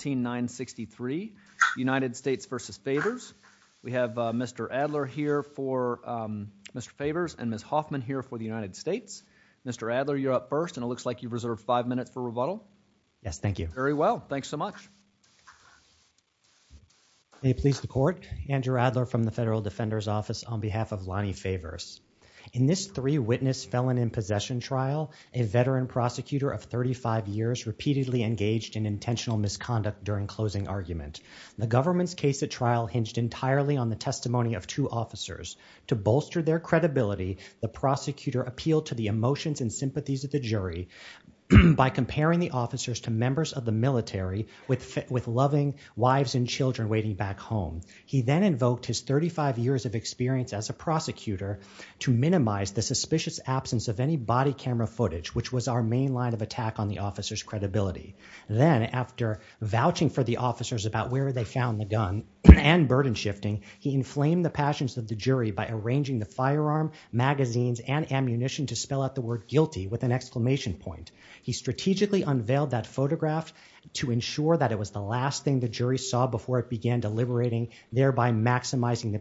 16963 United States v. Favors. We have Mr. Adler here for Mr. Favors and Ms. Hoffman here for the United States. Mr. Adler, you're up first and it looks like you've reserved five minutes for rebuttal. Yes, thank you. Very well. Thanks so much. May it please the court. Andrew Adler from the Federal Defender's Office on behalf of Lonnie Favors. In this three witness felon in possession trial, a veteran prosecutor of 35 years repeatedly engaged in intentional misconduct during closing argument. The government's case at trial hinged entirely on the testimony of two officers. To bolster their credibility, the prosecutor appealed to the emotions and sympathies of the jury by comparing the officers to members of the military with loving wives and children waiting back home. He then invoked his 35 years of experience as a prosecutor to minimize the suspicious absence of any which was our main line of attack on the officer's credibility. Then after vouching for the officers about where they found the gun and burden shifting, he inflamed the passions of the jury by arranging the firearm, magazines, and ammunition to spell out the word guilty with an exclamation point. He strategically unveiled that photograph to ensure that it was the last thing the jury saw before it began deliberating, thereby maximizing the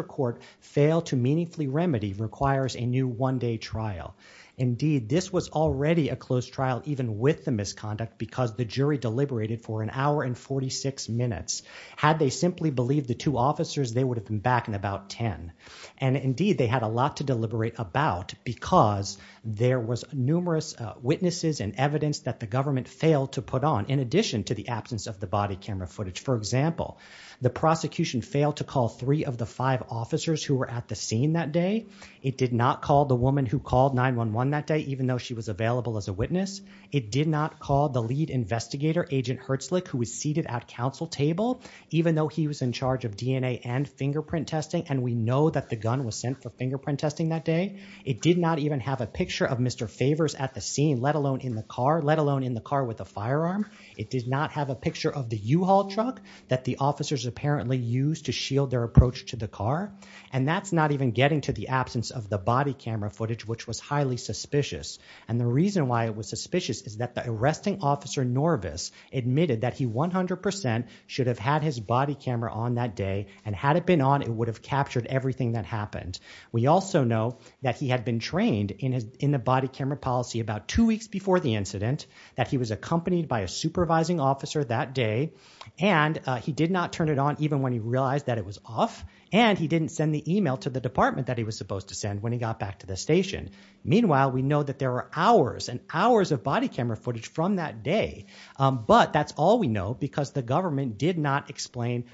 court failed to meaningfully remedy requires a new one day trial. Indeed, this was already a closed trial even with the misconduct because the jury deliberated for an hour and 46 minutes. Had they simply believed the two officers, they would have been back in about 10. Indeed, they had a lot to deliberate about because there was numerous witnesses and evidence that the government failed to put on in addition to the absence of the body camera footage. For example, the prosecution failed to call three of the five officers who were at the scene that day. It did not call the woman who called 911 that day even though she was available as a witness. It did not call the lead investigator, Agent Hertzlich, who was seated at council table even though he was in charge of DNA and fingerprint testing and we know that the gun was sent for fingerprint testing that day. It did not even have a picture of Mr. Favors at the scene, let alone in the car, let alone in the car with a firearm. It did not have a picture of the U-Haul truck that the officers apparently used to shield their approach to the car and that's not even getting to the absence of the body camera footage, which was highly suspicious and the reason why it was suspicious is that the arresting officer Norvis admitted that he 100% should have had his body camera on that day and had it been on, it would have captured everything that happened. We also know that he had been trained in the body camera policy about two weeks before the incident that he was accompanied by a supervising officer that day and he did not turn it on even when he realized that it was off and he didn't send the email to the department that he was supposed to send when he got back to the station. Meanwhile, we know that there were hours and hours of body camera footage from that day, but that's all we know because the government did not explain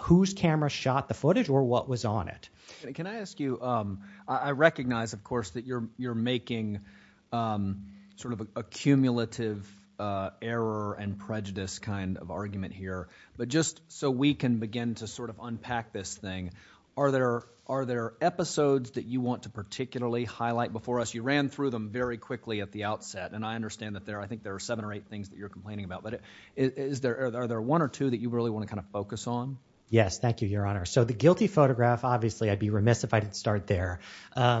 whose camera shot the footage or what was on it. Can I ask you, I recognize of course that you're making sort of a cumulative error and prejudice kind of argument here, but just so we can begin to sort of unpack this thing, are there episodes that you want to particularly highlight before us? You ran through them very quickly at the outset and I understand that there, I think there are seven or eight things that you're complaining about, but is there, are there one or two that you really want to kind of focus on? Yes, thank you, your honor. So the guilty photograph, obviously I'd be remiss if I didn't start there. You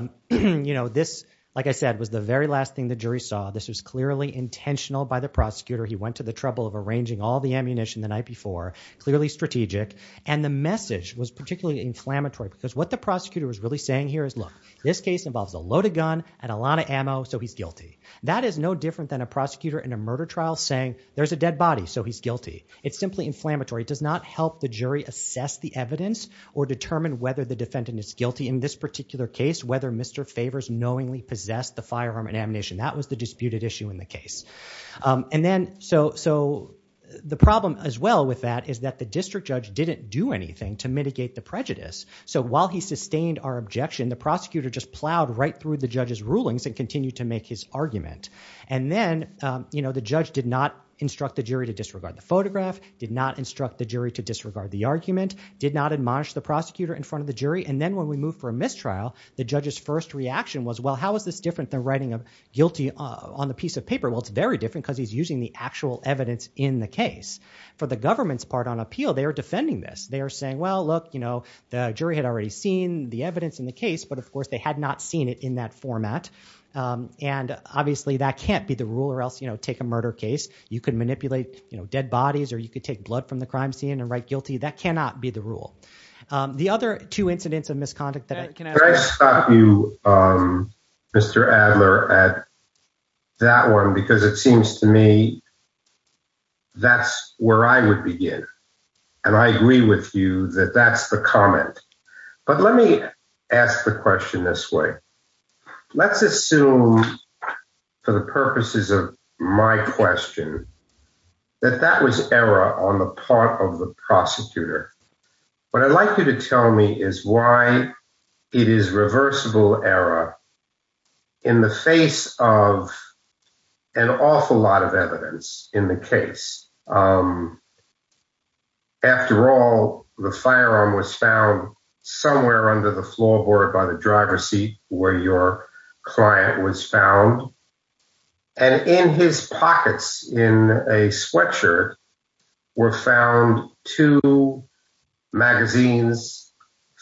know, this, like I said, was the very last thing the jury saw. This was clearly intentional by the prosecutor. He went to the trouble of arranging all the ammunition the night before, clearly strategic, and the message was particularly inflammatory because what the prosecutor was really saying here is, look, this case involves a loaded gun and a lot of ammo, so he's guilty. That is no different than a prosecutor in a murder trial saying there's a dead body, so he's guilty. It's simply inflammatory. It does not help the jury assess the evidence or determine whether the defendant is guilty in this particular case, whether Mr. Favors knowingly possessed the firearm and ammunition. That was the disputed issue in the case. And then, so, so the problem as well with that is that the district judge didn't do anything to mitigate the prejudice. So while he sustained our objection, the prosecutor just plowed right through the judge's rulings and continued to make his argument. And then, you know, the judge did not instruct the jury to disregard the photograph, did not instruct the jury to disregard the argument, did not admonish the prosecutor in front of the jury, and then when we moved for a mistrial, the judge's first reaction was, well, how is this different than writing a guilty on the piece of paper? Well, it's very different because he's using the actual evidence in the case. For the government's part on appeal, they are defending this. They are saying, well, look, you know, the jury had already seen the evidence in the case, but of course they had not seen it in that format, and obviously that can't be the rule or else, you know, take a murder case. You can manipulate, you know, dead bodies, or you could take blood from the crime scene and write guilty. That cannot be the rule. The other two incidents of misconduct that I can ask... Can I stop you, Mr. Adler, at that one because it seems to me that's where I would begin, and I agree with you that that's the comment. But let me ask the question this way. Let's assume, for the purposes of my question, that that was error on the part of the prosecutor. What I'd like you to tell me is why it is reversible error in the face of an awful lot of evidence in the case. After all, the firearm was found somewhere under the floorboard by the driver's seat where your client was found, and in his pockets in a sweatshirt were found two magazines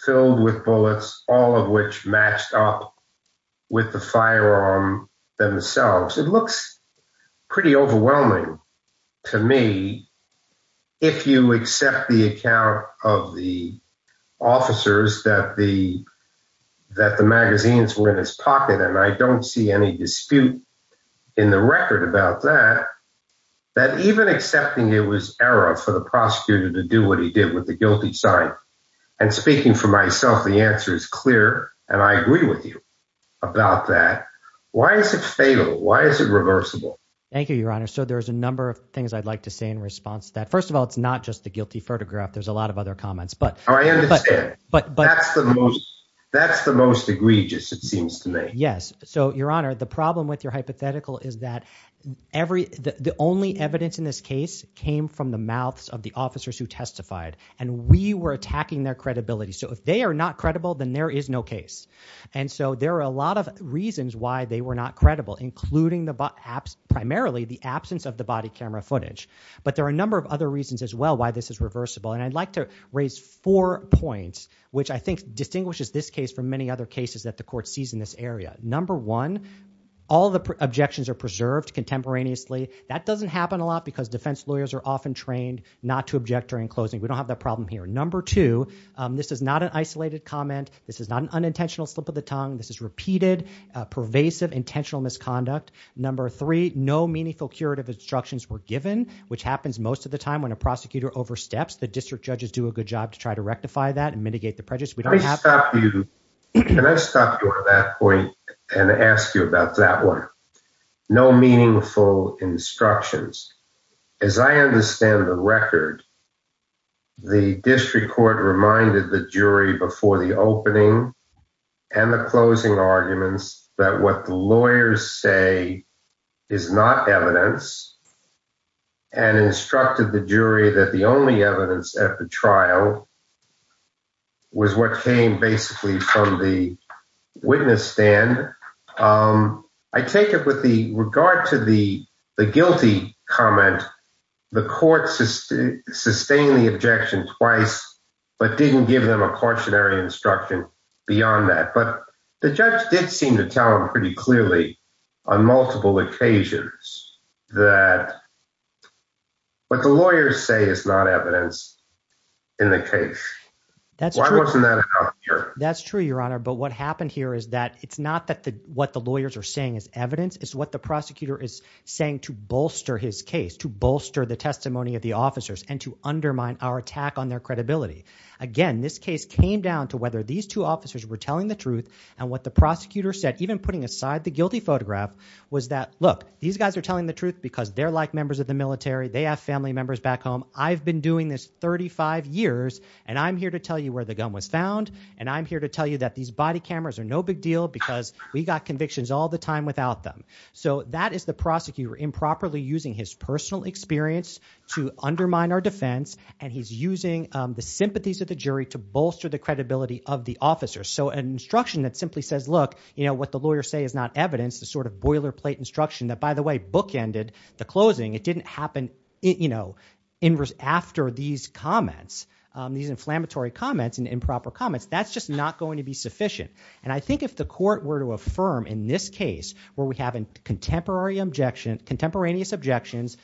filled with bullets, all of which matched up with the firearm themselves. It looks pretty overwhelming to me if you accept the account of the officers that the magazines were in his pocket, and I don't see any dispute in the record about that, that even accepting it was error for the prosecutor to do what he did with the guilty sign, and speaking for myself, the answer is clear, and I agree with you about that. Why is it reversible? Thank you, Your Honor. So there's a number of things I'd like to say in response to that. First of all, it's not just the guilty photograph. There's a lot of other comments, but I understand, but that's the most egregious, it seems to me. Yes. So, Your Honor, the problem with your hypothetical is that the only evidence in this case came from the mouths of the officers who testified, and we were attacking their credibility. So if they are not credible, then there is no case, and so there are a lot of reasons why they were not credible, including primarily the absence of the body camera footage, but there are a number of other reasons as well why this is reversible, and I'd like to raise four points, which I think distinguishes this case from many other cases that the court sees in this area. Number one, all the objections are preserved contemporaneously. That doesn't happen a lot because defense lawyers are often trained not to object during closing. We don't have that problem here. Number two, this is not an isolated comment. This is not an unintentional slip of the tongue. This is repeated, pervasive, intentional misconduct. Number three, no meaningful curative instructions were given, which happens most of the time when a prosecutor oversteps. The district judges do a good job to try to rectify that and mitigate the prejudice. Can I stop you at that point and ask you about that one? No meaningful instructions. As I understand the record, the district court reminded the jury before the opening and the closing arguments that what the lawyers say is not evidence and instructed the jury that the only evidence at the trial was what came basically from the witness stand. I take it with regard to the guilty comment, the court sustained the objection twice, but didn't give them a cautionary instruction beyond that. But the judge did seem to tell him pretty clearly on multiple occasions that what the lawyers say is not evidence in the case. That's true, your honor. But what happened here is that it's not that the what the lawyers are saying is evidence is what the prosecutor is saying to bolster his case, to bolster the testimony of the officers and to undermine our attack on their credibility. Again, this case came down to whether these two officers were telling the truth and what the prosecutor said, even putting aside the guilty photograph, was that, look, these guys are telling the truth because they're like members of the military. They have family members back home. I've been doing this 35 years and I'm here to tell you where the gun was found. And I'm here to tell you that these body cameras are no big deal because we got convictions all the time without them. So that is the prosecutor improperly using his personal experience to undermine our defense. And he's using the sympathies of the jury to bolster the credibility of the officers. So an instruction that simply says, look, you know, what the lawyers say is not evidence, the sort of boilerplate instruction that, by the way, bookended the closing. It didn't happen, you know, after these comments, these inflammatory comments and improper comments. That's just not going to be sufficient. And I think if the court were to affirm in this case where we have a contemporary objection, contemporaneous objections,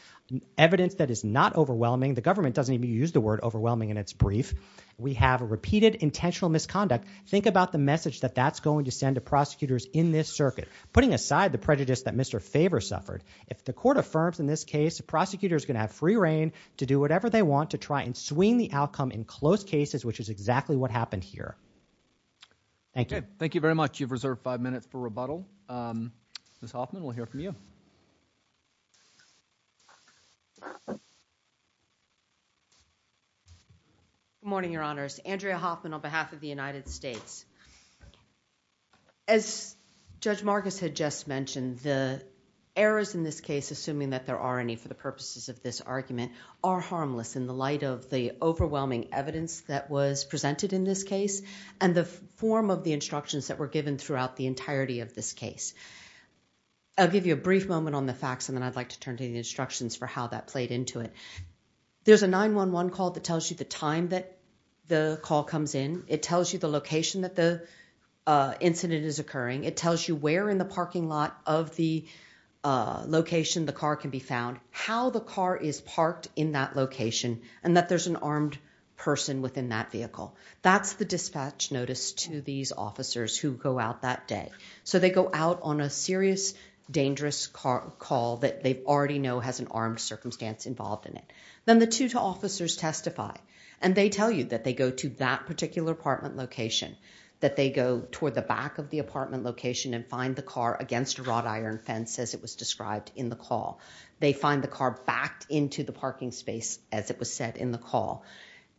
evidence that is not overwhelming, the government doesn't even use the word overwhelming in its brief, we have a repeated intentional misconduct, think about the message that that's going to send to prosecutors in this circuit, putting aside the prejudice that Mr. Faber suffered. If the court affirms in this case, the prosecutor's going to have free reign to do whatever they want to try and swing the outcome in close cases, which is exactly what happened here. Thank you. Okay. Thank you very much. You've reserved five minutes for rebuttal. Ms. Hoffman, we'll hear from you. Good morning, Your Honors. Andrea Hoffman on behalf of the United States. As Judge Marcus had just mentioned, the errors in this case, assuming that there are any for the purposes of this argument, are harmless in the light of the overwhelming evidence that was presented in this case and the form of the instructions that were given throughout the entirety of this case. I'll give you a brief moment on the facts and then I'd like to turn to the instructions for how that played into it. There's a 911 call that tells you the time that the call comes in. It tells you the location that the incident is occurring. It tells you where in the parking lot of the location the car can be found, how the car is parked in that location, and that there's an armed person within that vehicle. That's the dispatch notice to these officers who go out that day. So they go out on a serious, dangerous call that they already know has an armed circumstance involved in it. Then the two officers testify and they tell you that they go to that particular apartment location, that they go toward the back of the apartment location and find the car against a wrought iron fence as it was said in the call.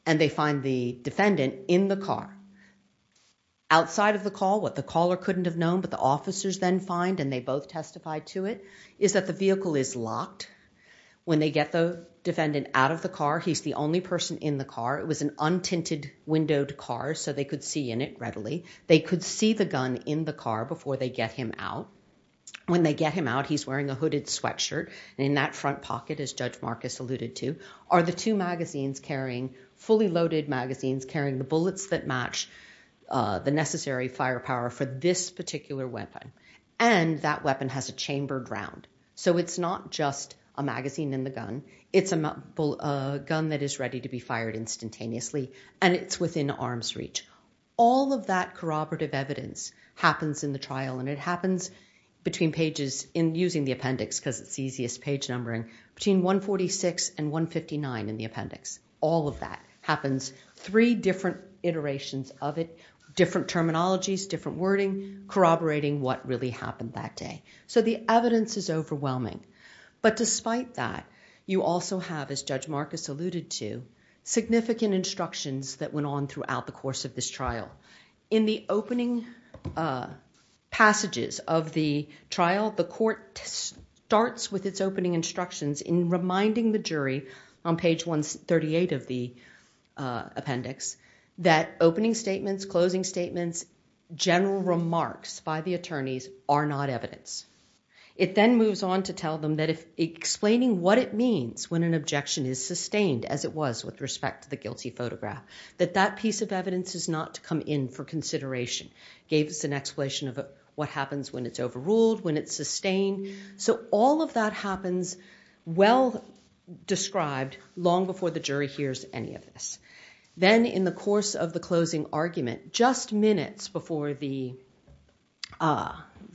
And they find the defendant in the car. Outside of the call, what the caller couldn't have known, but the officers then find and they both testify to it, is that the vehicle is locked. When they get the defendant out of the car, he's the only person in the car. It was an untinted windowed car so they could see in it readily. They could see the gun in the car before they get him out. When they get him out, he's wearing a hooded sweatshirt and in that front pocket, as Judge Marcus alluded to, are the two magazines carrying, fully loaded magazines, carrying the bullets that match the necessary firepower for this particular weapon. And that weapon has a chambered round. So it's not just a magazine in the gun, it's a gun that is ready to be fired instantaneously and it's within arm's reach. All of that corroborative evidence happens in the trial and it happens between pages, in using the appendix because it's easiest page numbering, between 146 and 159 in the appendix. All of that happens. Three different iterations of it, different terminologies, different wording, corroborating what really happened that day. So the evidence is overwhelming. But despite that, you also have, as Judge Marcus alluded to, significant instructions that went on throughout the course of this trial. In the opening passages of the trial, the court starts with its opening instructions in reminding the jury on page 138 of the appendix that opening statements, closing statements, general remarks by the attorneys are not evidence. It then moves on to tell them that explaining what it means when an objection is sustained as it was with respect to the guilty photograph, that that piece of evidence is not to come in for consideration. Gave us an explanation of what happens when it's overruled, when it's sustained. So all of that happens well described long before the jury hears any of this. Then in the course of the closing argument, just minutes before the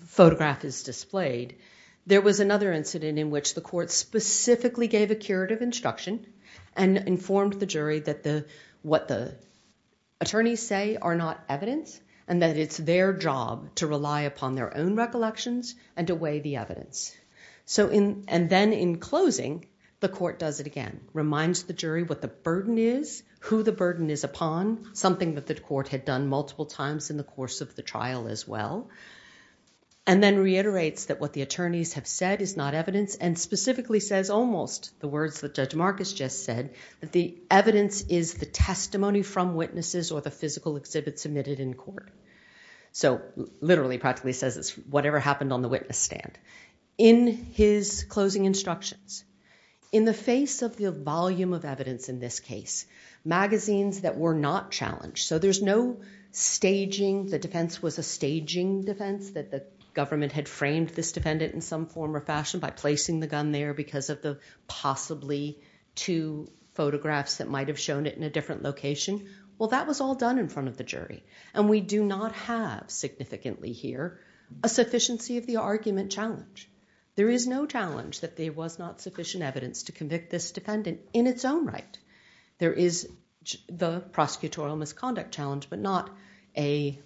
photograph is displayed, there was another incident in which the court specifically gave a curative instruction and informed the jury that what the attorneys say are not evidence, and that it's their job to rely upon their own recollections and to weigh the evidence. And then in closing, the court does it again. Reminds the jury what the burden is, who the burden is upon, something that the court had done multiple times in the course of the trial as well. And then reiterates that what the attorneys have said is not evidence and specifically says almost the words that Judge Marcus just said, that the evidence is the testimony from witnesses or the physical exhibit submitted in court. So literally practically says it's whatever happened on the witness stand. In his closing instructions, in the face of the volume of evidence in this case, magazines that were not challenged, so there's no staging, the defense was a staging defense that the government had framed this defendant in some form or fashion by placing the gun there because of the possibly two photographs that might have shown it in a different location. Well, that was all done in front of the jury. And we do not have significantly here a sufficiency of the argument challenge. There is no challenge that there was not sufficient evidence to convict this defendant in its own right. There is the prosecutorial misconduct challenge, but not a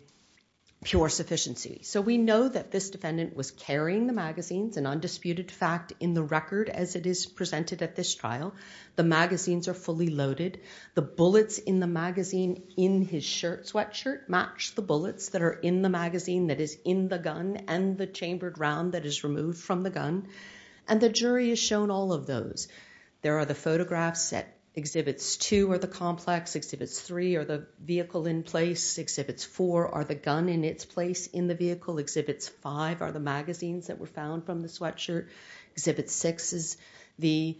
pure sufficiency. So we know that this defendant was carrying the magazines, an undisputed fact in the record as it is presented at this trial. The magazines are fully loaded. The bullets in the magazine in his shirt, sweatshirt, match the bullets that are in the magazine that is in the gun and the chambered round that is removed from the gun. And the jury has shown all of those. There are the photographs that exhibits two are the complex, exhibits three are the vehicle in place, exhibits four are the gun in its place in the vehicle, exhibits five are the magazines that were found from the sweatshirt, exhibit six is the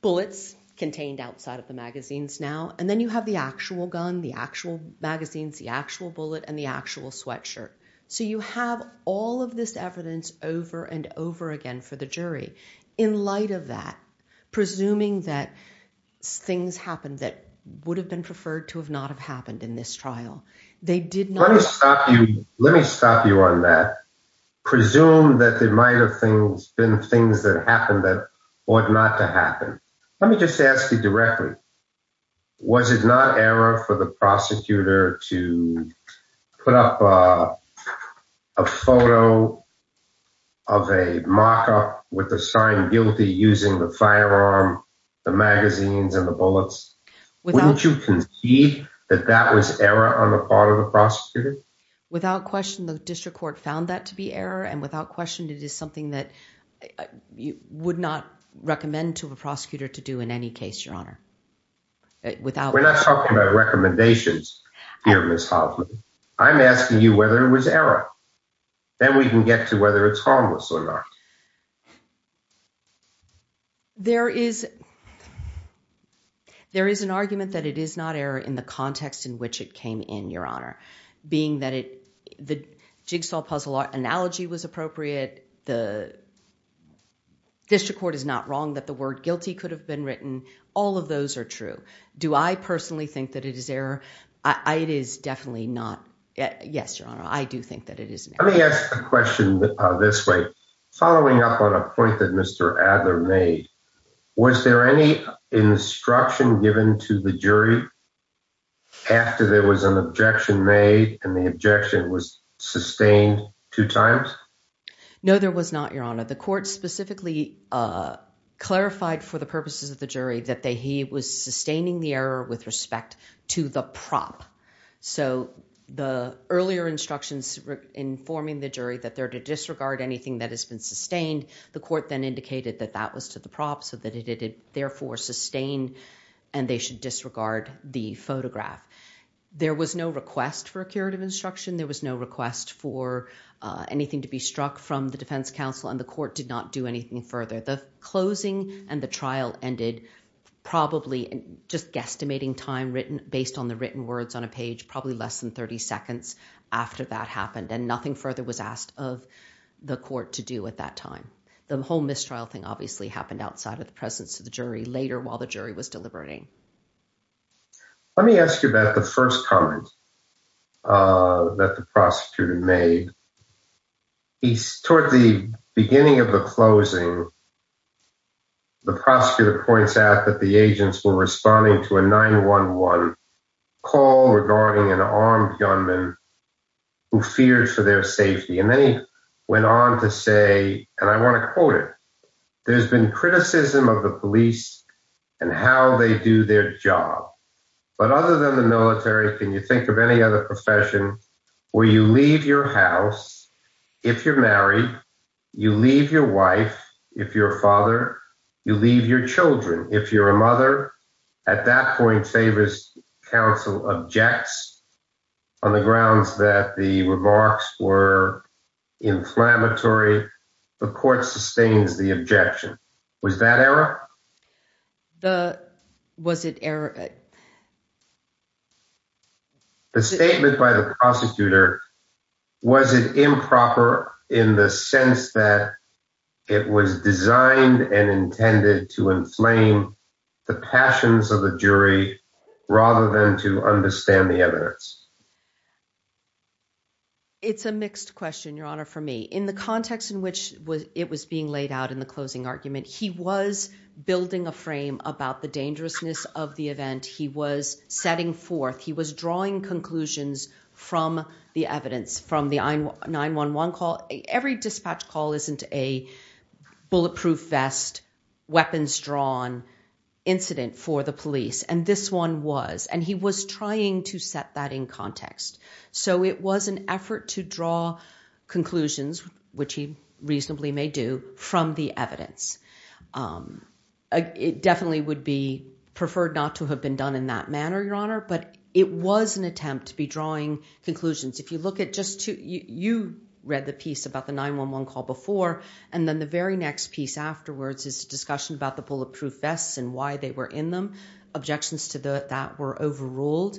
bullets contained outside of the magazines now, and then you have the actual gun, the actual magazines, the actual bullet, and the actual sweatshirt. So you have all of this evidence over and over again for the jury. In light of that, presuming that things happened that would have been preferred to have not have happened in this trial, they did not stop you. Let me stop you on that. Presume that there might have things been things that happened that ought not to happen. Let me just ask you directly. Was it not error for the prosecutor to put up a photo of a mock up with the sign guilty using the firearm, the magazines and the bullets without you can see that that was error on the part of the prosecutor? Without question, the district court found that to be error. And without question, it is something that you would not recommend to a prosecutor to do in any case, your honor. Without we're I'm asking you whether it was error. Then we can get to whether it's harmless or not. There is there is an argument that it is not error in the context in which it came in, your honor, being that it the jigsaw puzzle analogy was appropriate. The district court is not wrong that the word guilty could have been written. All of those are true. Do I definitely not? Yes, your honor. I do think that it is. Let me ask a question this way. Following up on a point that Mr Adler made, was there any instruction given to the jury after there was an objection made and the objection was sustained two times? No, there was not, your honor. The court specifically, uh, clarified for the purposes of the jury that he was sustaining the error with respect to the prop. So the earlier instructions informing the jury that they're to disregard anything that has been sustained, the court then indicated that that was to the prop so that it did therefore sustain and they should disregard the photograph. There was no request for a curative instruction. There was no request for anything to be struck from the defense counsel and the court did not do anything further. The closing and the probably just guesstimating time written based on the written words on a page, probably less than 30 seconds after that happened and nothing further was asked of the court to do at that time. The whole mistrial thing obviously happened outside of the presence of the jury later while the jury was deliberating. Let me ask you about the first comment, uh, that the prosecutor made. He, toward the beginning of the closing, the prosecutor points out that the agents were responding to a 911 call regarding an armed gunman who feared for their safety. And then he went on to say, and I want to quote it, there's been criticism of the police and how they do their job. But other than the military, can you think of any other profession where you leave your house, if you're married, you leave your wife, if you're a father, you leave your children, if you're a mother? At that point, favor's counsel objects on the grounds that the remarks were inflammatory. The court sustains the objection. Was that error? The, was it error? The statement by the prosecutor, was it improper in the sense that it was designed and intended to inflame the passions of the jury rather than to understand the evidence? It's a mixed question, your honor. For me, in the context in which it was being laid out in the closing argument, he was building a frame about the dangerousness of the event, he was setting forth, he was drawing conclusions from the evidence, from the 911 call. Every dispatch call isn't a bulletproof vest, weapons drawn incident for the police. And this one was, and he was trying to set that in context. So it was an effort to draw conclusions, which he in that manner, your honor, but it was an attempt to be drawing conclusions. If you look at just two, you read the piece about the 911 call before, and then the very next piece afterwards is a discussion about the bulletproof vests and why they were in them. Objections to that were overruled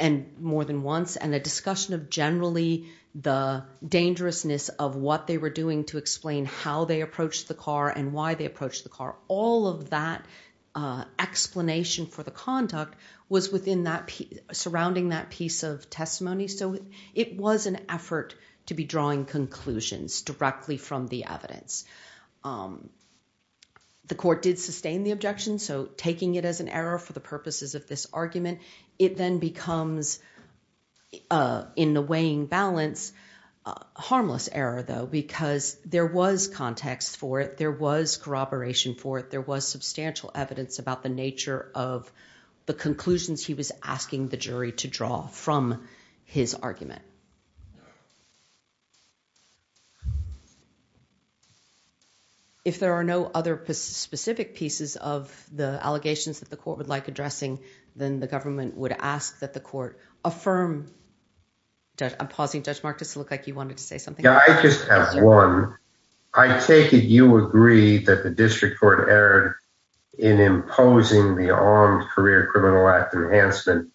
and more than once, and a discussion of generally the dangerousness of what they were doing to explain how they approached the car and why they approached the car. All of that explanation for conduct was surrounding that piece of testimony. So it was an effort to be drawing conclusions directly from the evidence. The court did sustain the objection. So taking it as an error for the purposes of this argument, it then becomes in the weighing balance, a harmless error though, because there was context for it. There was corroboration for it. There was substantial evidence about the nature of the conclusions he was asking the jury to draw from his argument. If there are no other specific pieces of the allegations that the court would like addressing, then the government would ask that the court affirm... I'm pausing, Judge Marcus, it looked like you wanted to say something. Yeah, I just have one. I take it you agree that the district court erred in imposing the Armed Career Criminal Act enhancement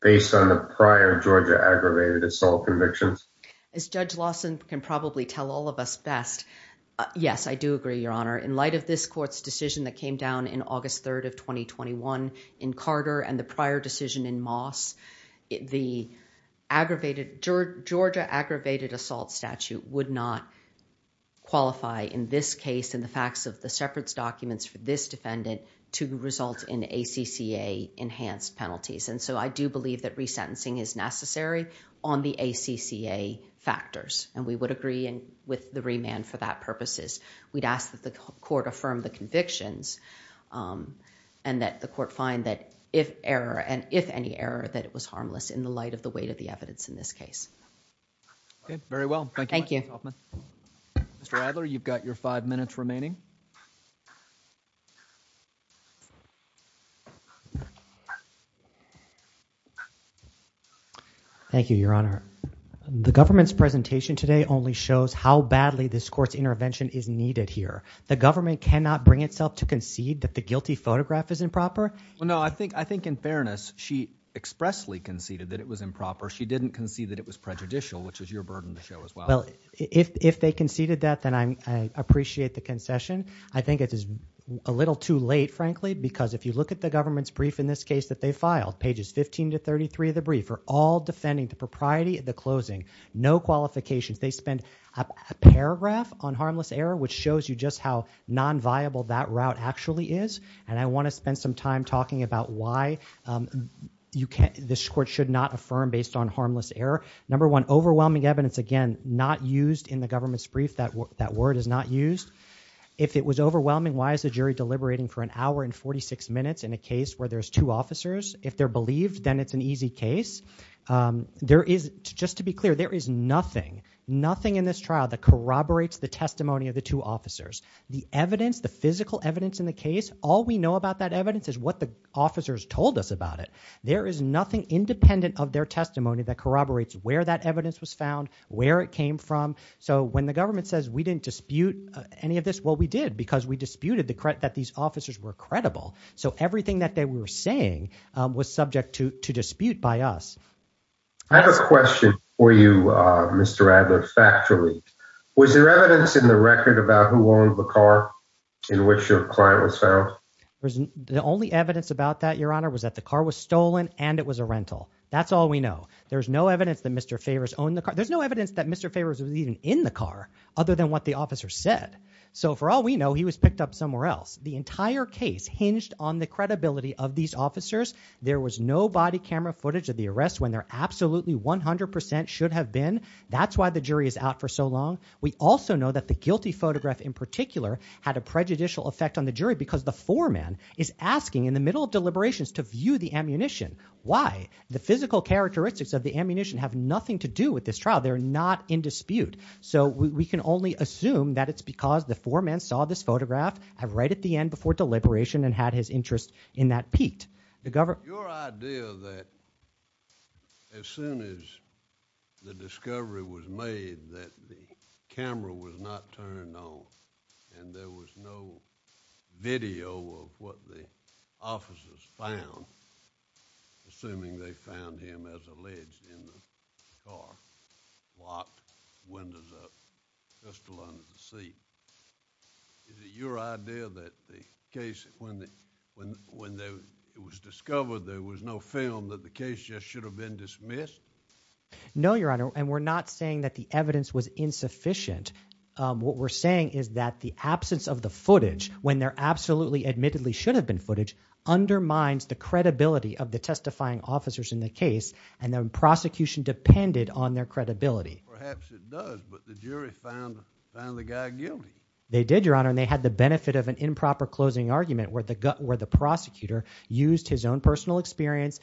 based on the prior Georgia aggravated assault convictions? As Judge Lawson can probably tell all of us best, yes, I do agree, Your Honor. In light of this court's decision that came down in August 3rd of 2021 in Carter and the prior decision in Moss, the Georgia aggravated assault statute would not qualify in this case, in the facts of the separate documents for this defendant, to result in ACCA enhanced penalties. And so I do believe that resentencing is necessary on the ACCA factors. And we would agree with the remand for that purposes. We'd ask that the court affirm the convictions and that the court find that if error, and if any error, that it was improper. Thank you. Mr. Adler, you've got your five minutes remaining. Thank you, Your Honor. The government's presentation today only shows how badly this court's intervention is needed here. The government cannot bring itself to concede that the guilty photograph is improper? Well, no, I think in fairness, she expressly conceded that it was improper. She didn't concede that it was prejudicial, which is your burden to show as well. Well, if they conceded that, then I appreciate the concession. I think it is a little too late, frankly, because if you look at the government's brief in this case that they filed, pages 15 to 33 of the brief, are all defending the propriety of the closing, no qualifications. They spend a paragraph on harmless error, which shows you just how non-viable that route actually is. And I want to spend some time talking about why this court should not affirm based on harmless error. Number one, overwhelming evidence, again, not used in the government's brief. That word is not used. If it was overwhelming, why is the jury deliberating for an hour and 46 minutes in a case where there's two officers? If they're believed, then it's an easy case. Just to be clear, there is nothing, nothing in this trial that corroborates the testimony of the two officers. The evidence, the physical evidence in the case, all we know about that evidence is what the officers told us about it. There is nothing independent of their testimony that corroborates where that evidence was found, where it came from. So when the government says we didn't dispute any of this, well, we did because we disputed that these officers were credible. So everything that they were saying was subject to dispute by us. I have a question for you, Mr. Adler, factually. Was there evidence in the record about who owned the car in which your client was found? The only evidence about that, Your Honor, was that the car was stolen and it was a rental. That's all we know. There's no evidence that Mr. Favors owned the car. There's no evidence that Mr. Favors was even in the car other than what the officer said. So for all we know, he was picked up somewhere else. The entire case hinged on the credibility of these officers. There was no body camera footage of the arrest when there absolutely 100% should have been. That's why the jury is out for so long. We also know that the guilty photograph in particular had a prejudicial effect on the jury because the foreman is asking in the middle of deliberations to view the ammunition. Why? The physical characteristics of the ammunition have nothing to do with this trial. They're not in dispute. So we can only assume that it's because the foreman saw this photograph right at the end before deliberation and had his interest in that piqued. Your idea that as soon as the discovery was made that the camera was not turned on and there was no video of what the officers found, assuming they found him as alleged in the it was discovered there was no film that the case just should have been dismissed? No, Your Honor, and we're not saying that the evidence was insufficient. What we're saying is that the absence of the footage when there absolutely admittedly should have been footage undermines the credibility of the testifying officers in the case, and the prosecution depended on their credibility. Perhaps it does, but the jury found found the guy guilty. They did, Your Honor, and they had the benefit of an improper closing argument where the prosecutor used his own personal experience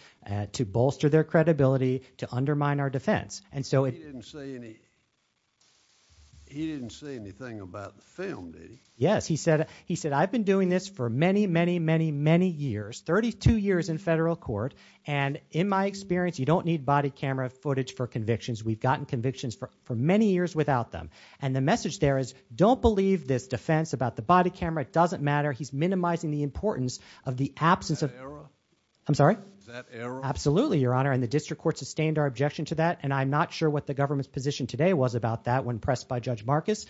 to bolster their credibility, to undermine our defense. He didn't say anything about the film, did he? Yes, he said, I've been doing this for many, many, many, many years, 32 years in federal court, and in my experience, you don't need body camera footage for convictions. We've gotten convictions for many years without them, and the message there is don't believe this defense about the body camera. It doesn't matter. He's minimizing the importance of the absence of... That error? I'm sorry? That error? Absolutely, Your Honor, and the district court sustained our objection to that, and I'm not sure what the government's position today was about that when pressed by Judge Marcus,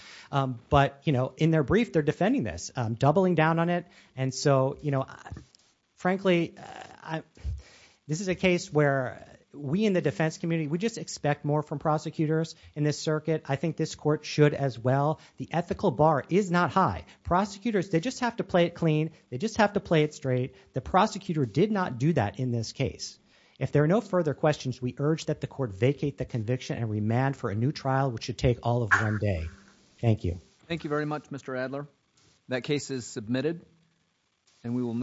but in their brief, they're defending this, doubling down on it, and so frankly, this is a case where we in the defense community, we just expect more from prosecutors in this circuit. I think this court should as well. The ethical bar is not high. Prosecutors, they just have to play it clean. They just have to play it straight. The prosecutor did not do that in this case. If there are no further questions, we urge that the court vacate the conviction and remand for a new trial, which should take all of one day. Thank you. Thank you very much, Mr. Adler. That case is submitted, and we will...